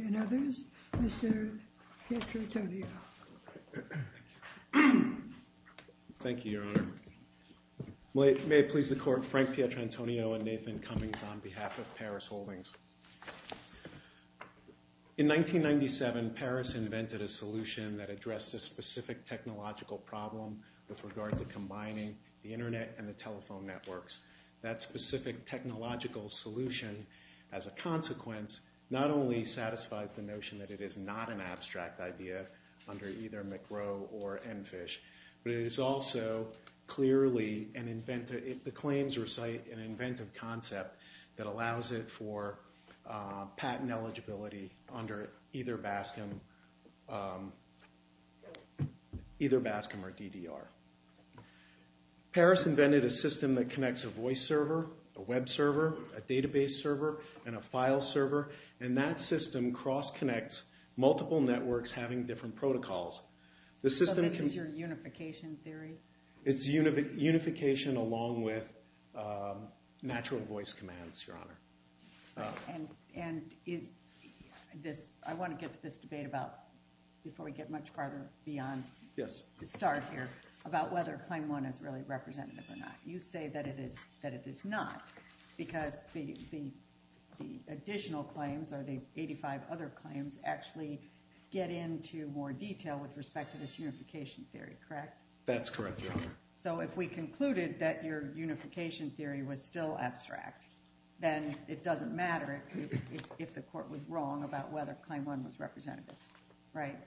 and others. Mr. Pietrantonio. Thank you, Your Honor. May it please the Court, Frank Pietrantonio and Nathan Cummings on behalf of Parus Holdings. In 1997, Parus invented a solution that addressed a specific technological problem with regard to combining the Internet and the telephone networks. That specific technological solution, as a consequence, not only satisfies the notion that it is not an abstract idea under either McRow or Enfish, but it is also clearly an inventive, the claims recite an inventive concept that allows it for patent eligibility under either BASCM or DDR. Parus invented a system that connects a voice server, a web server, a database server, and a file server, and that system cross-connects multiple networks having different protocols. So this is your unification theory? It's unification along with natural voice commands, Your Honor. I want to get to this debate before we get much farther beyond the start here about whether Claim 1 is really representative or not. You say that it is not because the additional claims or the 85 other claims actually get into more detail with respect to this unification theory, correct? That's correct, Your Honor. So if we concluded that your unification theory was still abstract, then it doesn't matter if the court was wrong about whether Claim 1 was representative, right?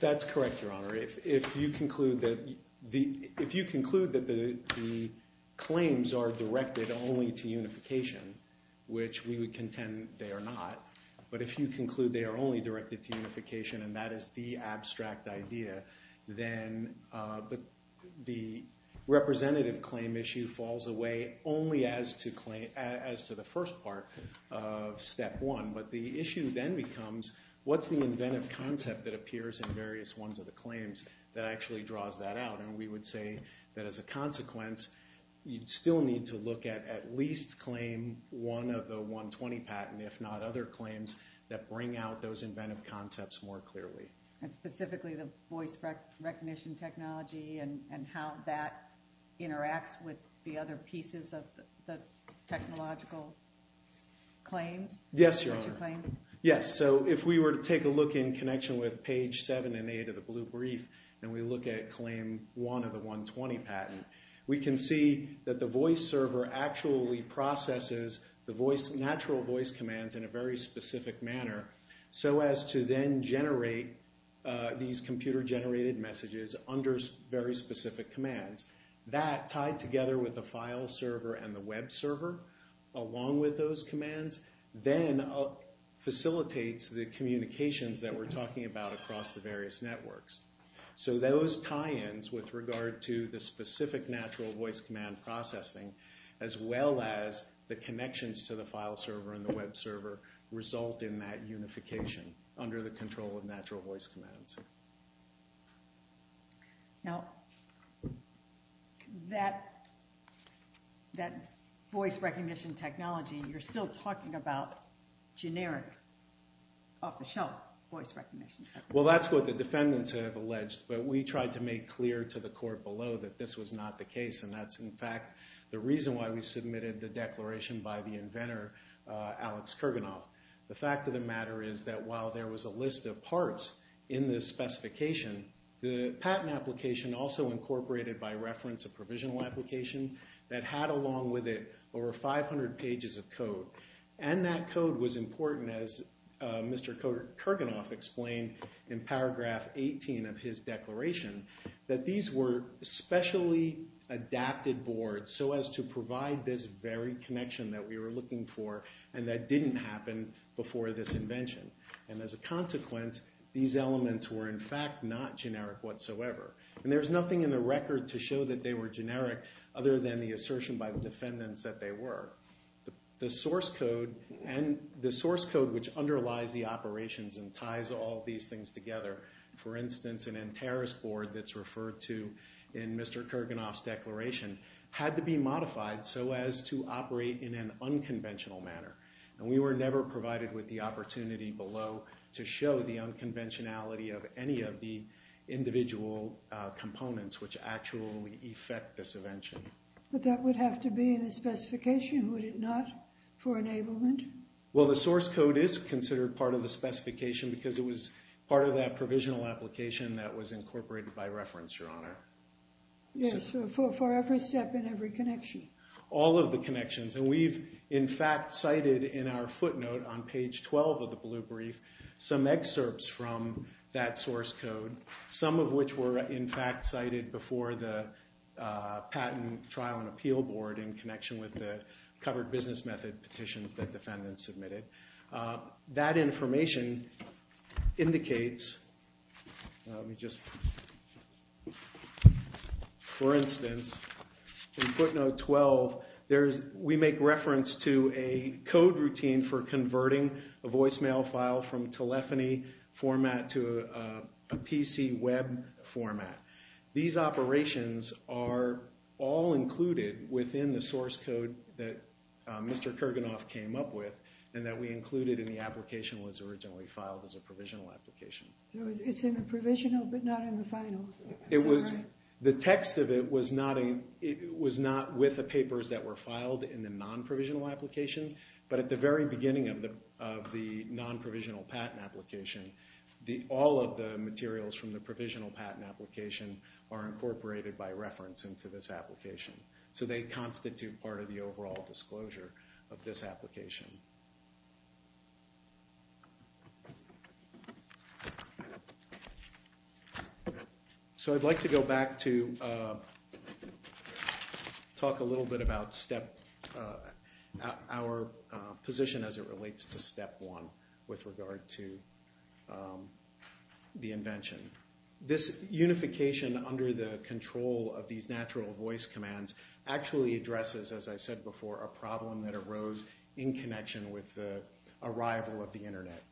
That's correct, Your Honor. If you conclude that the claims are directed only to unification, which we would contend they are not, but if you conclude they are only directed to unification and that is the abstract idea, then the representative claim issue falls away only as to the first part of Step 1. But the issue then becomes, what's the inventive concept that appears in various ones of the claims that actually draws that out? And we would say that as a consequence, you'd still need to look at at least Claim 1 of the 120 patent, if not other claims, that bring out those inventive concepts more clearly. And specifically the voice recognition technology and how that interacts with the other pieces of the technological claims? Yes, Your Honor. Yes, so if we were to take a look in connection with page 7 and 8 of the blue brief and we look at Claim 1 of the 120 patent, we can see that the voice server actually processes the natural voice commands in a very specific manner so as to then generate these computer generated messages under very specific commands. That, tied together with the file server and the web server along with those commands, then facilitates the communications that we're talking about across the various networks. So those tie-ins with regard to the specific natural voice command processing, as well as the connections to the file server and the web server, result in that unification under the control of natural voice commands. Now that voice recognition technology, you're still talking about generic, off the shelf voice recognition technology. Well, that's what the defendants have alleged, but we tried to make clear to the court below that this was not the case and that's in fact the reason why we submitted the declaration by the inventor, Alex Kurganoff. The fact of the matter is that while there was a list of parts in this specification, the patent application also incorporated by reference a provisional application that had along with it over 500 pages of code. And that code was important, as Mr. Kurganoff explained in paragraph 18 of his declaration, that these were specially adapted boards so as to provide this very connection that we were looking for and that didn't happen before this invention. And as a consequence, these elements were in fact not generic whatsoever. And there's nothing in the record to show that they were generic other than the assertion by the defendants that they were. The source code, which underlies the operations and ties all these things together, for instance, an NTERIS board that's referred to in Mr. Kurganoff's declaration, had to be modified so as to operate in an unconventional manner. And we were never provided with the opportunity below to show the unconventionality of any of the individual components which actually effect this invention. But that would have to be in the specification, would it not, for enablement? Well, the source code is considered part of the specification because it was part of that provisional application that was incorporated by reference, Your Honor. Yes, for every step and every connection. All of the connections. And we've in fact cited in our footnote on page 12 of the blue brief some excerpts from that source code, some of which were in fact cited before the patent trial and appeal board in connection with the covered business method petitions that defendants submitted. That information indicates, for instance, in footnote 12, we make reference to a code routine for converting a voicemail file from telephony format to a PC web format. These operations are all included within the source code that Mr. Kurganoff came up with and that we included in the application was originally filed as a provisional application. It's in the provisional, but not in the final. The text of it was not with the papers that were filed in the non-provisional application, but at the very beginning of the non-provisional patent application, all of the materials from the provisional patent application are incorporated by reference into this application. So they are all included in the non-provisional patent application. So I'd like to go back to talk a little bit about our position as it relates to step one with regard to the invention. This unification under the control of these natural voice commands actually addresses, as I said before, a problem that arose in connection with the arrival of the Internet.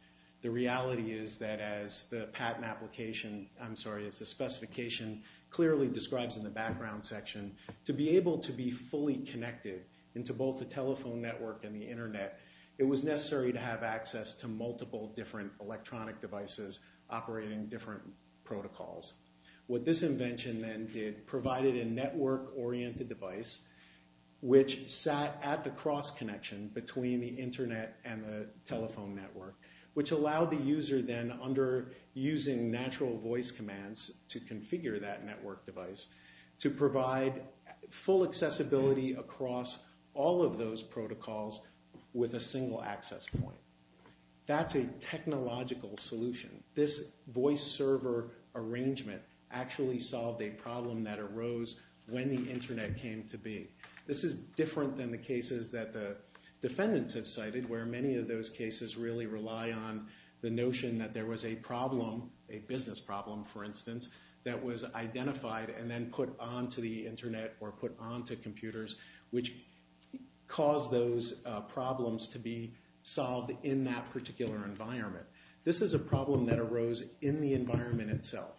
The reality is that as the patent application, I'm sorry, as the specification clearly describes in the background section, to be able to be fully connected into both the telephone network and the Internet, it was necessary to have access to multiple different electronic devices operating different protocols. What this invention then did, provided a network-oriented device, which sat at the cross-connection between the Internet and the telephone network, which allowed the user then under using natural voice commands to configure that network device to provide full accessibility across all of those protocols with a single access point. That's a technological solution. This voice server arrangement actually solved a problem that arose when the Internet came to be. This is different than the cases that the defendants have cited, where many of those cases really rely on the notion that there was a problem, a business problem, for instance, that was identified and then put onto the Internet or put onto computers, which caused those problems to be solved in that particular environment. This is a problem that arose in the environment itself.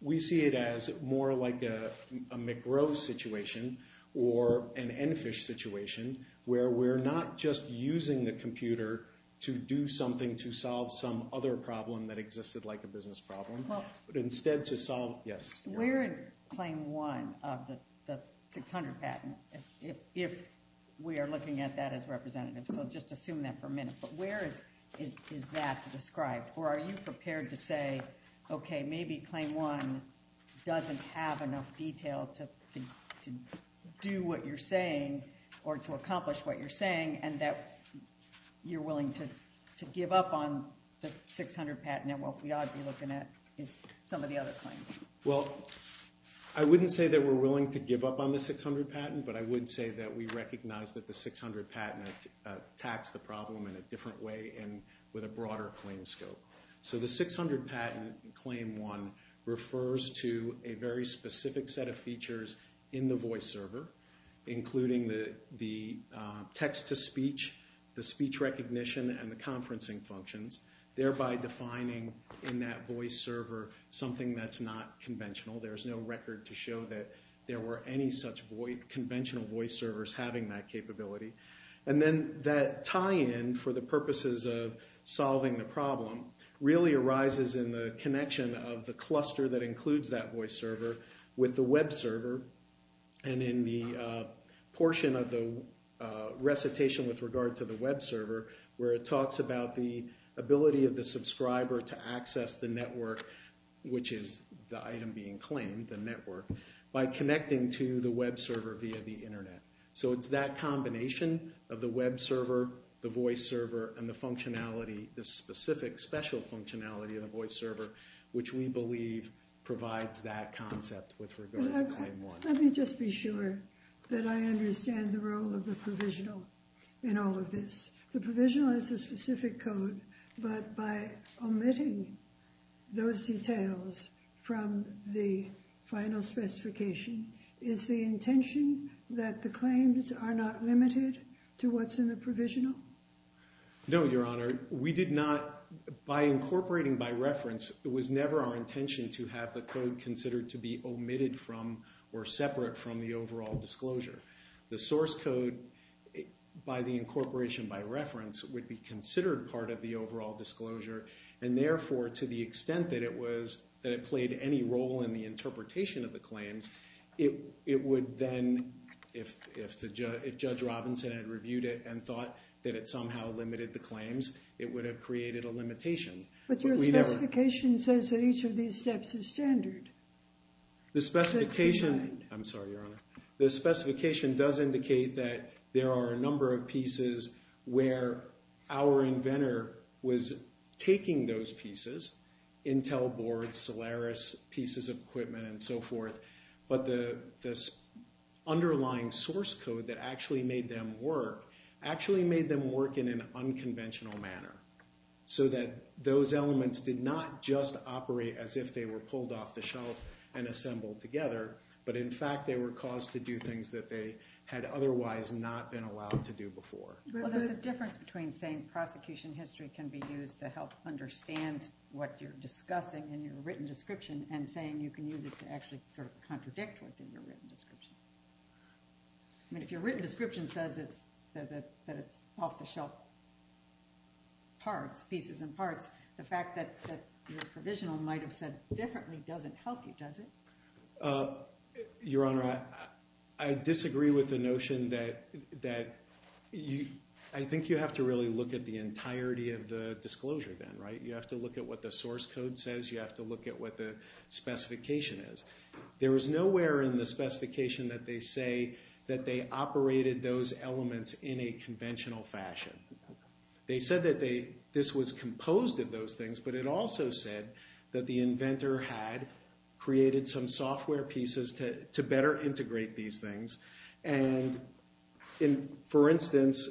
We see it as more like a McGrow situation or an EnFish situation, where we're not just using the computer to do something to solve some other problem that existed like a business problem, but instead to solve, yes. We're in claim one of the 600 patent, if we are looking at that as representatives, so just assume that for a minute, but where is that to describe? Or are you prepared to say, okay, maybe claim one doesn't have enough detail to do what you're saying or to accomplish what you're saying and that you're willing to give up on the 600 patent and what we ought to be looking at is some of the other claims? Well, I wouldn't say that we're willing to give up on the 600 patent, but I would say that we recognize that the 600 patent attacks the problem in a different way and with a broader claim scope. So the 600 patent claim one refers to a very specific set of features in the voice server, including the text-to-speech, the speech recognition, and the conferencing functions, thereby defining in that voice server something that's not conventional. There's no record to show that there were any such conventional voice servers having that capability. And then that tie-in for the purposes of solving the problem really arises in the connection of the cluster that includes that voice server with the web server and in the portion of the recitation with regard to the web server where it talks about the ability of the subscriber to access the network, which is the item being claimed, the network, by connecting to the web server via the internet. So it's that combination of the web server, the voice server, and the functionality, the specific special functionality of the voice server, which we believe provides that concept with regard to claim one. Let me just be sure that I understand the role of the provisional in all of this. The source code, but by omitting those details from the final specification, is the intention that the claims are not limited to what's in the provisional? No, Your Honor. We did not, by incorporating by reference, it was never our intention to have the code considered to be omitted from or separate from the overall disclosure. The overall disclosure, and therefore, to the extent that it played any role in the interpretation of the claims, it would then, if Judge Robinson had reviewed it and thought that it somehow limited the claims, it would have created a limitation. But your specification says that each of these steps is standard. The specification does indicate that there are a number of pieces where our inventor was taking those pieces, Intel boards, Solaris pieces of equipment, and so forth, but the underlying source code that actually made them work, actually made them work in an unconventional manner, so that those elements did not just operate as if they were pulled off the shelf and assembled together, but in fact, they were caused to do things that they had otherwise not been allowed to do before. Well, there's a difference between saying prosecution history can be used to help understand what you're discussing in your written description and saying you can use it to actually sort of contradict what's in your written description. I mean, if your written description says that it's off the shelf parts, pieces and parts, the fact that your provisional might have said differently doesn't help you, does it? Your Honor, I disagree with the notion that I think you have to really look at the entirety of the disclosure then, right? You have to look at what the source code says, you have to look at what the specification is. There is nowhere in the specification that they say that they operated those elements in a conventional fashion. They said that this was composed of those things, but it also said that the inventor had created some software pieces to better integrate these things. For instance,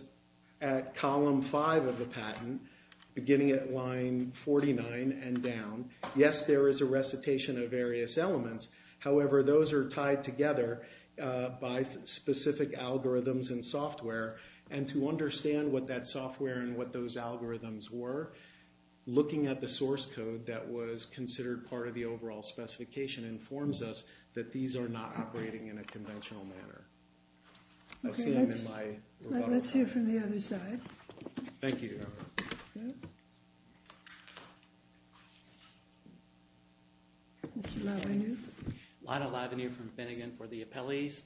at column 5 of the patent, beginning at line 49 and down, yes, there is a recitation of various elements. However, those are tied together by specific algorithms and software, and to understand what that software and what those algorithms were, looking at the source code that was considered part of the overall specification informs us that these are not operating in a conventional manner. Okay, let's hear from the other side. Thank you, Your Honor. Mr. Lavenu. Lionel Lavenu from Finnegan for the appellees.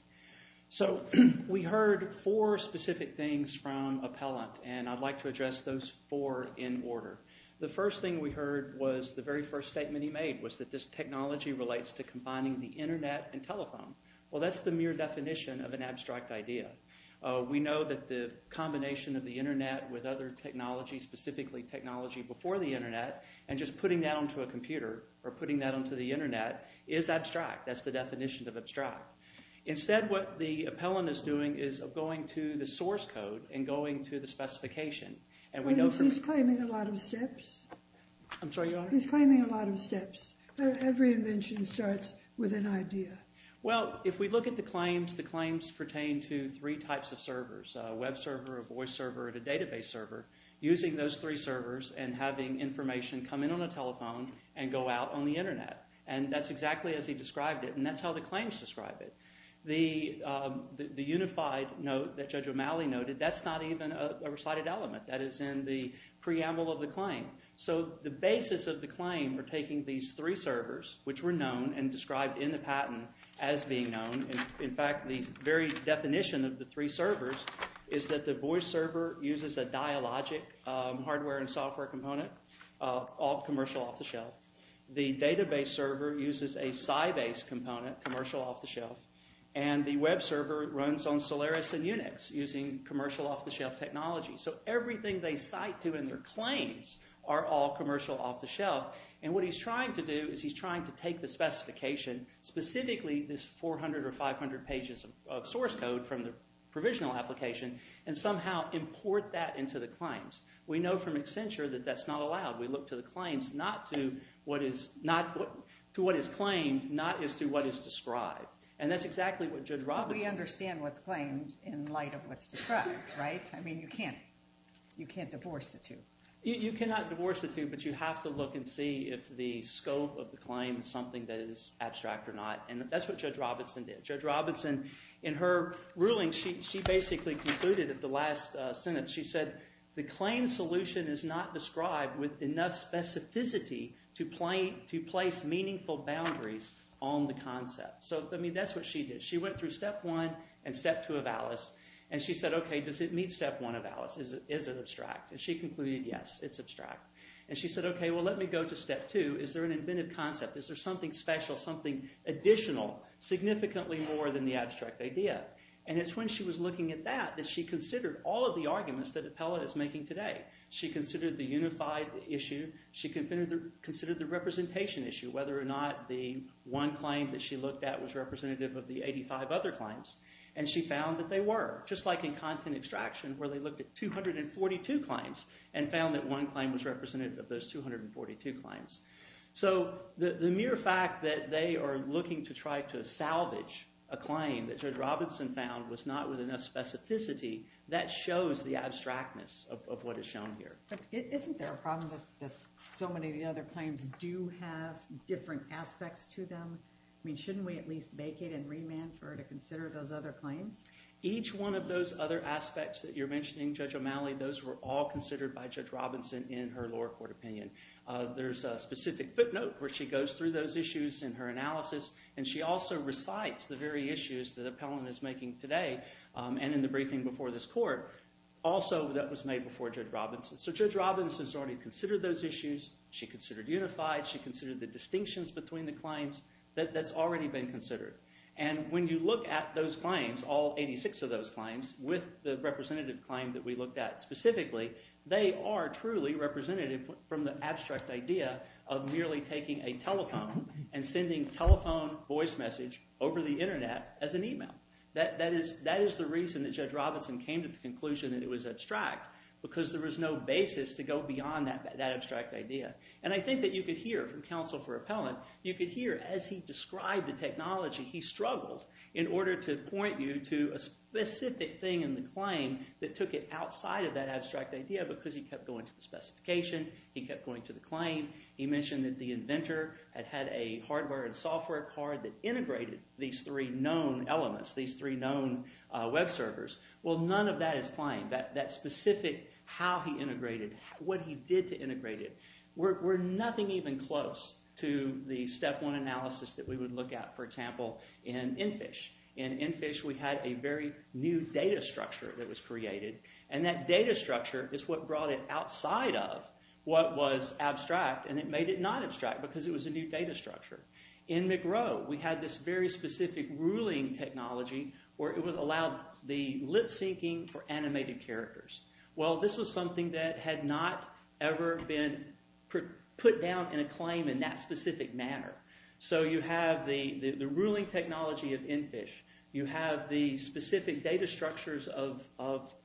So, we heard four specific things from appellant, and I'd like to address those four in order. The first thing we heard was the very first statement he made, was that this technology relates to combining the internet and telephone. Well, that's the mere definition of an abstract idea. We know that the combination of the internet with other technologies, specifically technology before the internet, and just putting that onto a computer, or putting that onto the internet, is abstract. That's the definition of abstract. Instead, what the appellant is doing is going to the source code and going to the specification, and we know from... He's claiming a lot of steps. I'm sorry, Your Honor? He's claiming a lot of steps. Every invention starts with an idea. Well, if we look at the claims, the claims pertain to three types of servers, a web server, a voice server, and a database server, using those three servers and having information come in on a telephone and go out on the internet, and that's exactly as he described it, and that's how the claims describe it. The unified note that Judge O'Malley noted, that's not even a recited element. That is in the preamble of the claim. So the basis of the claim are taking these three servers, which were known and described in the patent as being known. In fact, the very definition of the three servers is that the voice server uses a dialogic hardware and software component, all commercial off the shelf. The database server uses a Sybase component, commercial off the shelf, and the technology. So everything they cite to in their claims are all commercial off the shelf, and what he's trying to do is he's trying to take the specification, specifically this 400 or 500 pages of source code from the provisional application, and somehow import that into the claims. We know from Accenture that that's not allowed. We look to the claims, not to what is claimed, not as to what is described, and that's exactly what Judge Robinson... Right? I mean, you can't divorce the two. You cannot divorce the two, but you have to look and see if the scope of the claim is something that is abstract or not, and that's what Judge Robinson did. Judge Robinson, in her ruling, she basically concluded at the last sentence, she said, the claim solution is not described with enough specificity to place meaningful boundaries on the concept. So, I mean, that's what she did. She went through step one and step two of Alice, and she said, okay, does it meet step one of Alice? Is it abstract? And she concluded, yes, it's abstract. And she said, okay, well, let me go to step two. Is there an inventive concept? Is there something special, something additional, significantly more than the abstract idea? And it's when she was looking at that that she considered all of the arguments that Appellate is making today. She considered the unified issue. She considered the representation issue, whether or not the one claim that she looked at was representative of the 85 other claims, and she found that they were, just like in content extraction, where they looked at 242 claims and found that one claim was representative of those 242 claims. So, the mere fact that they are looking to try to salvage a claim that Judge Robinson found was not with enough specificity, that shows the abstractness of what is shown here. Isn't there a problem that so many of the other claims do have different aspects to them? I mean, shouldn't we at least vacate and remand for her to consider those other claims? Each one of those other aspects that you're mentioning, Judge O'Malley, those were all considered by Judge Robinson in her lower court opinion. There's a specific footnote where she goes through those issues in her analysis, and she also recites the very issues that Appellant is making today, and in the briefing before this court, also that was made before Judge Robinson. So, Judge Robinson has already considered those issues. She considered unified. She considered the distinctions between the claims. That's already been considered. And when you look at those claims, all 86 of those claims, with the representative claim that we looked at specifically, they are truly representative from the abstract idea of merely taking a telephone and sending telephone voice message over the internet as an email. That is the reason that Judge Robinson came to the conclusion that it was abstract, because there was no basis to go beyond that abstract idea. And I think that you could hear from counsel for Appellant, you could hear as he described the technology, he struggled in order to point you to a specific thing in the claim that took it outside of that abstract idea, because he kept going to the specification, he kept going to the claim, he mentioned that the inventor had had a hardware and software card that integrated these three known elements, these three known web servers. Well, none of that is claimed. That specific how he integrated, what he did to integrate it, were nothing even close to the step one analysis that we would look at, for example, in Enfish. In Enfish, we had a very new data structure that was created, and that data structure is what brought it outside of what was abstract, and it made it not abstract, because it was a new data structure. In McRow, we had this very specific ruling technology where it was allowed the lip syncing for animated characters. Well, this was something that had not ever been put down in a claim in that specific manner. So, you have the ruling technology of Enfish, you have the specific data structures of,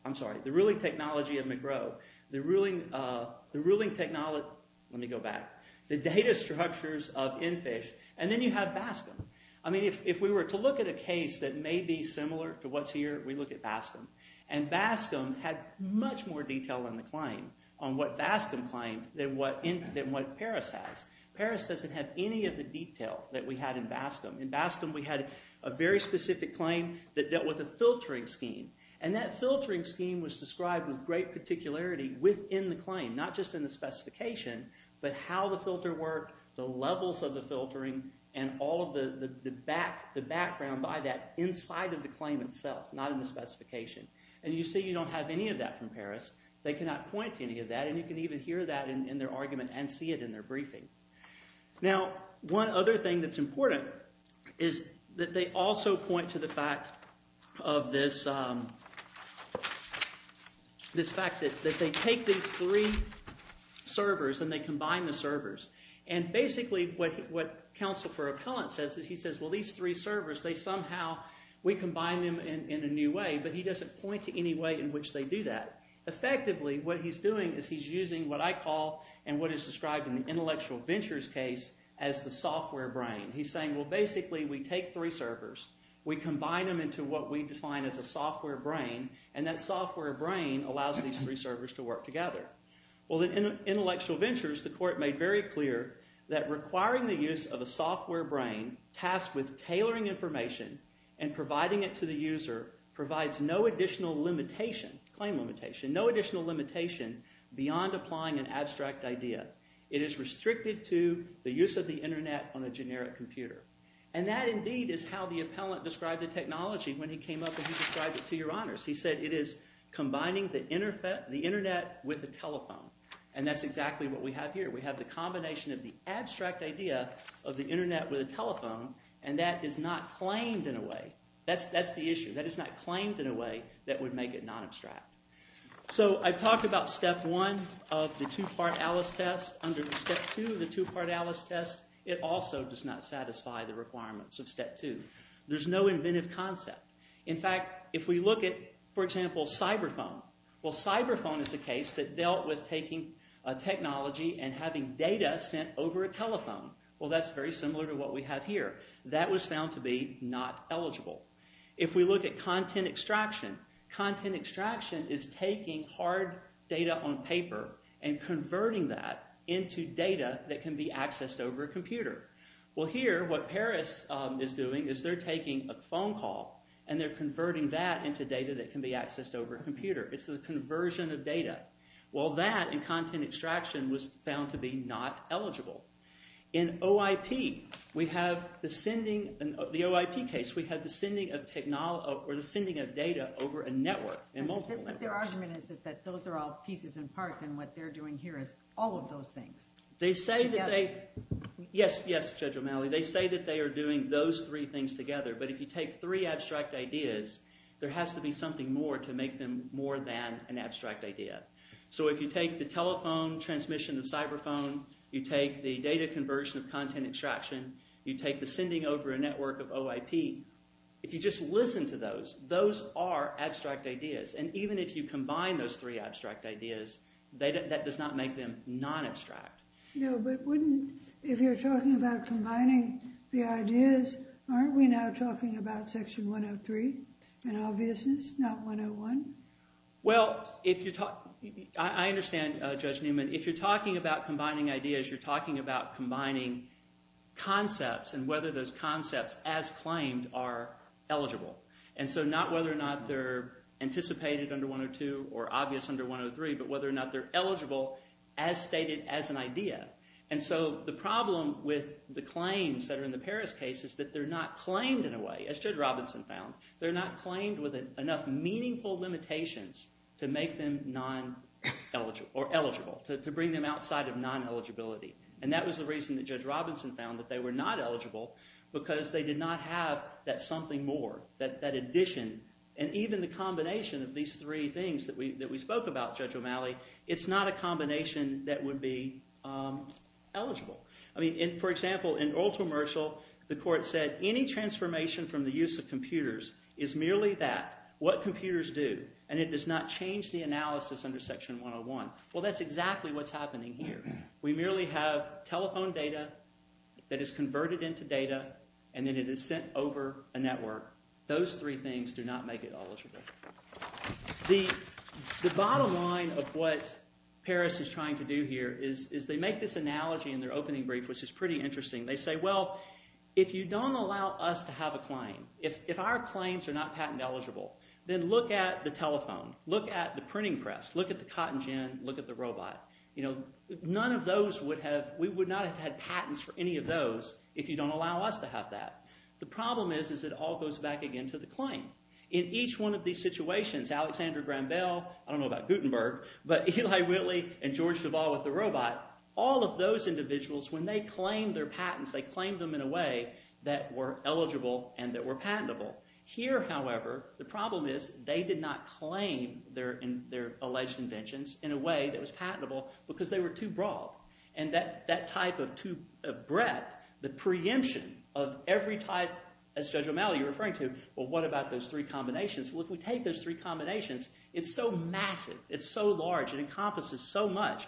I'm sorry, the ruling technology of McRow, the ruling technology, let me go back, the data structures of Enfish, and then you have Bascom. I mean, if we were to look at a case that may be similar to what's here, we look at Bascom, and Bascom had much more detail in the claim on what Bascom claimed than what Paris has. Paris doesn't have any of the detail that we had in Bascom. In Bascom, we had a very specific claim that dealt with a filtering scheme, and that filtering scheme was described with great particularity within the claim, not just in the specification, but how the filter worked, the levels of the filtering, and all of the background by that inside of the claim itself, not in the specification. And you see you don't have any of that from Paris. They cannot point to any of that, and you can even hear that in their argument and see it in their briefing. Now, one other thing that's important is that they also point to the fact of this fact that they take these three servers and they combine the servers, and basically what Counsel for Appellant says is he says, well, these three servers, they somehow, we combine them in a new way, but he doesn't point to any way in which they do that. Effectively, what he's doing is he's using what I call and what is described in the intellectual ventures case as the software brain. He's saying, well, basically, we take three servers, we combine them into what we define as a software brain, and that software brain allows these three servers to work together. Well, in intellectual ventures, the court made very clear that requiring the use of a software brain tasked with tailoring information and providing it to the user provides no additional limitation, claim limitation, no additional limitation beyond applying an abstract idea. It is restricted to the use of the internet on a generic computer. And that, the internet with a telephone, and that's exactly what we have here. We have the combination of the abstract idea of the internet with a telephone, and that is not claimed in a way. That's the issue. That is not claimed in a way that would make it non-abstract. So, I've talked about step one of the two-part Alice test. Under step two of the two-part Alice test, it also does not satisfy the requirements of step two. There's no inventive concept. In fact, if we look at, for example, cyber phone. Well, cyber phone is a case that dealt with taking a technology and having data sent over a telephone. Well, that's very similar to what we have here. That was found to be not eligible. If we look at content extraction, content extraction is taking hard data on paper and converting that into data that can be accessed over a computer. Well, here, what Paris is doing is they're taking a phone call and they're converting that into data that can be accessed over a computer. It's a conversion of data. Well, that in content extraction was found to be not eligible. In OIP, we have the sending, in the OIP case, we have the sending of data over a network, a multiple network. Their argument is that those are all pieces and parts and what they're doing here is all of those things. They say that they, yes, Judge O'Malley, they say that they are doing those three things together. But if you take three abstract ideas, there has to be something more to make them more than an abstract idea. So, if you take the telephone transmission of cyber phone, you take the data conversion of content extraction, you take the sending over a network of OIP, if you just listen to those, those are abstract ideas. And even if you combine those three abstract ideas, that does not make them non-abstract. No, but wouldn't, if you're talking about combining the ideas, aren't we now talking about Section 103 in obviousness, not 101? Well, if you talk, I understand Judge Newman, if you're talking about combining ideas, you're talking about combining concepts and whether those concepts as claimed are eligible. And so, not whether or not they're anticipated under 102 or obvious under 103, but whether or not they're eligible as stated as an idea. And so, the problem with the claims that are in the Paris case is that they're not claimed in a way, as Judge Robinson found, they're not claimed with enough meaningful limitations to make them non-eligible, or eligible, to bring them outside of non-eligibility. And that was the reason that Judge Robinson found that they were not eligible because they did not have that something more, that addition, and even the combination of these three things that we spoke about, Judge O'Malley, it's not a combination that would be removed from the use of computers, is merely that, what computers do, and it does not change the analysis under Section 101. Well, that's exactly what's happening here. We merely have telephone data that is converted into data, and then it is sent over a network. Those three things do not make it eligible. The bottom line of what Paris is trying to do here is they make this analogy in their opening brief, which is pretty interesting. They say, well, if you don't allow us to have a claim, if our claims are not patent eligible, then look at the telephone, look at the printing press, look at the cotton gin, look at the robot. None of those would have, we would not have had patents for any of those if you don't allow us to have that. The problem is, is it all goes back again to the claim. In each one of these situations, Alexander Graham Bell, I don't know about Gutenberg, but Eli Whitley and George Duvall with the robot, all of those individuals, when they claimed their patents, they claimed them in a way that were eligible and that were patentable. Here, however, the problem is they did not claim their alleged inventions in a way that was patentable because they were too broad. That type of too broad definition of every type, as Judge O'Malley, you're referring to, well, what about those three combinations? Well, if we take those three combinations, it's so massive, it's so large, it encompasses so much.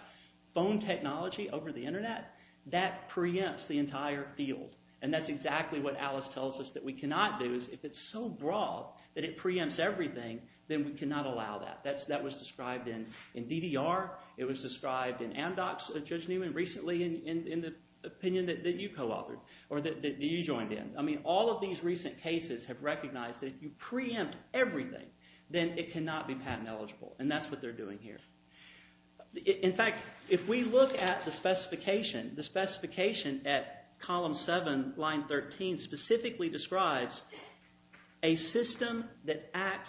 Phone technology over the internet, that preempts the entire field. That's exactly what Alice tells us that we cannot do. If it's so broad that it preempts everything, then we cannot allow that. That was described in Amdocs, Judge Newman, recently in the opinion that you co-authored or that you joined in. All of these recent cases have recognized that if you preempt everything, then it cannot be patent eligible. That's what they're doing here. In fact, if we look at the specification, the specification at column 7, line 13, specifically describes a system that their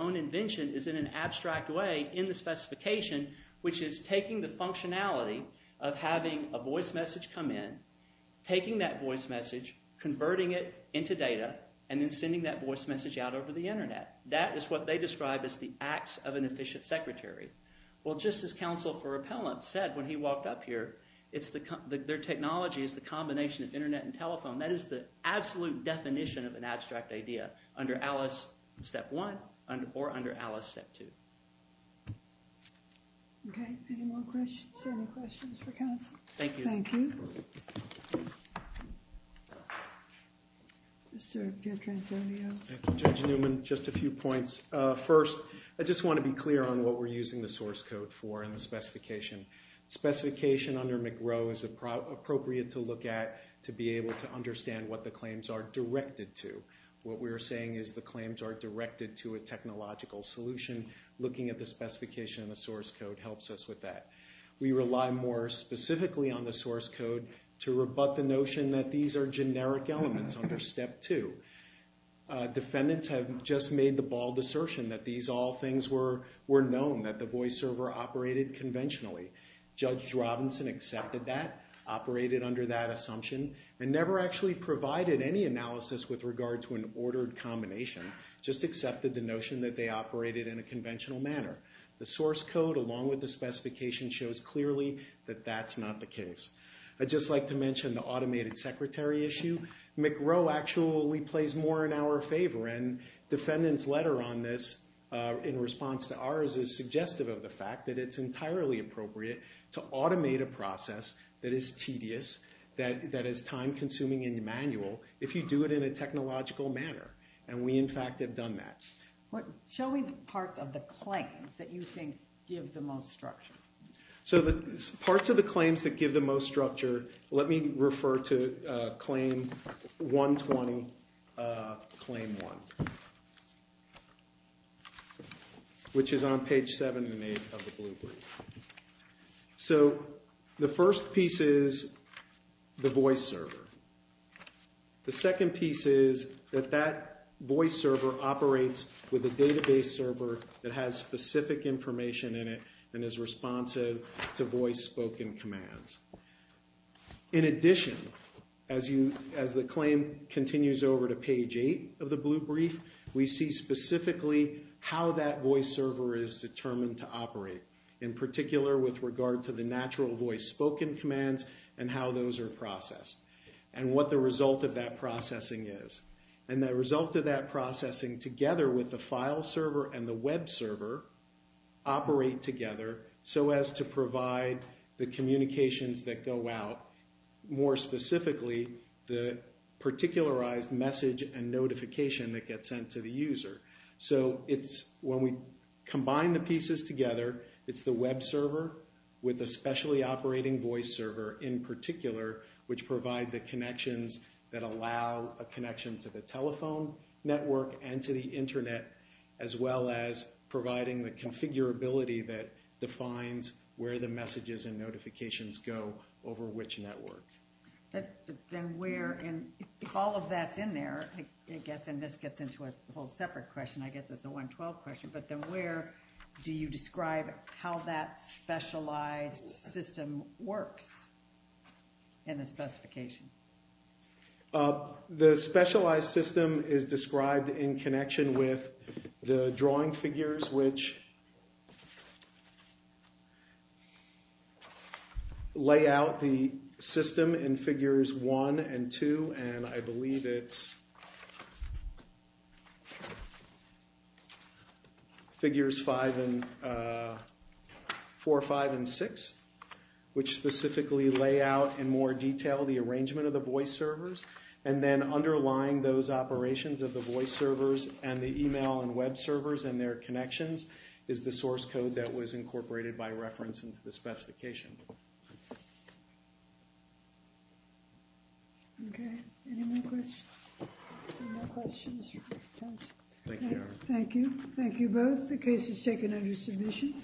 own invention is in an abstract way in the specification, which is taking the functionality of having a voice message come in, taking that voice message, converting it into data, and then sending that voice message out over the internet. That is what they describe as the acts of an efficient secretary. Well, just as counsel for repellent said when he walked up here, their technology is the combination of internet and telephone. That is the absolute definition of an abstract idea under Alice step 1 or under Alice step 2. Okay, any more questions? Any questions for counsel? Thank you. Mr. Pietrangelo. Thank you, Judge Newman. Just a few points. First, I just want to be clear on what we're using the source code for in the specification. Specification under McRow is appropriate to look at to be able to understand what the claims are directed to. What we're saying is the claims are directed to a technological solution. Looking at the specification in the source code helps us with that. We rely more specifically on the source code to rebut the notion that these are generic elements under step 2. Defendants have just made the bald assertion that these operated under that assumption and never actually provided any analysis with regard to an ordered combination, just accepted the notion that they operated in a conventional manner. The source code along with the specification shows clearly that that's not the case. I'd just like to mention the automated secretary issue. McRow actually plays more in our favor and defendant's letter on this in response to ours is suggestive of the fact that it's entirely appropriate to automate a process that is tedious, that is time-consuming and manual, if you do it in a technological manner. And we, in fact, have done that. Show me parts of the claims that you think give the most structure. Parts of the claims that give the most structure, let me refer to page 120, claim 1, which is on page 7 and 8 of the blue brief. So the first piece is the voice server. The second piece is that that voice server operates with a database server that has specific information in it and is And as this claim continues over to page 8 of the blue brief, we see specifically how that voice server is determined to operate, in particular with regard to the natural voice spoken commands and how those are processed and what the result of that processing is. And the result of that processing together with the file server and the web server operate together so as to provide the communications that go out, more specifically the particularized message and notification that gets sent to the user. So it's when we combine the pieces together, it's the web server with a specially operating voice server in particular, which provide the connections that allow a connection to the telephone network and to the internet, as well as providing the configurability that defines where the messages and notifications go over which network. If all of that's in there, I guess, and this gets into a whole separate question, I guess it's a 112 question, but then where do you describe how that specialized system works in the specification? The specialized system is described in connection with the drawing figures, which lay out the system in figures 1 and 2 and I believe it's figures 4, 5, and 6, which specifically lay out in more detail the arrangement of the voice servers and then underlying those operations of the voice servers and the email and web servers and their connections is the source code that was incorporated by reference into the specification. Okay, any more questions? Thank you. Thank you both. The case is taken under submission.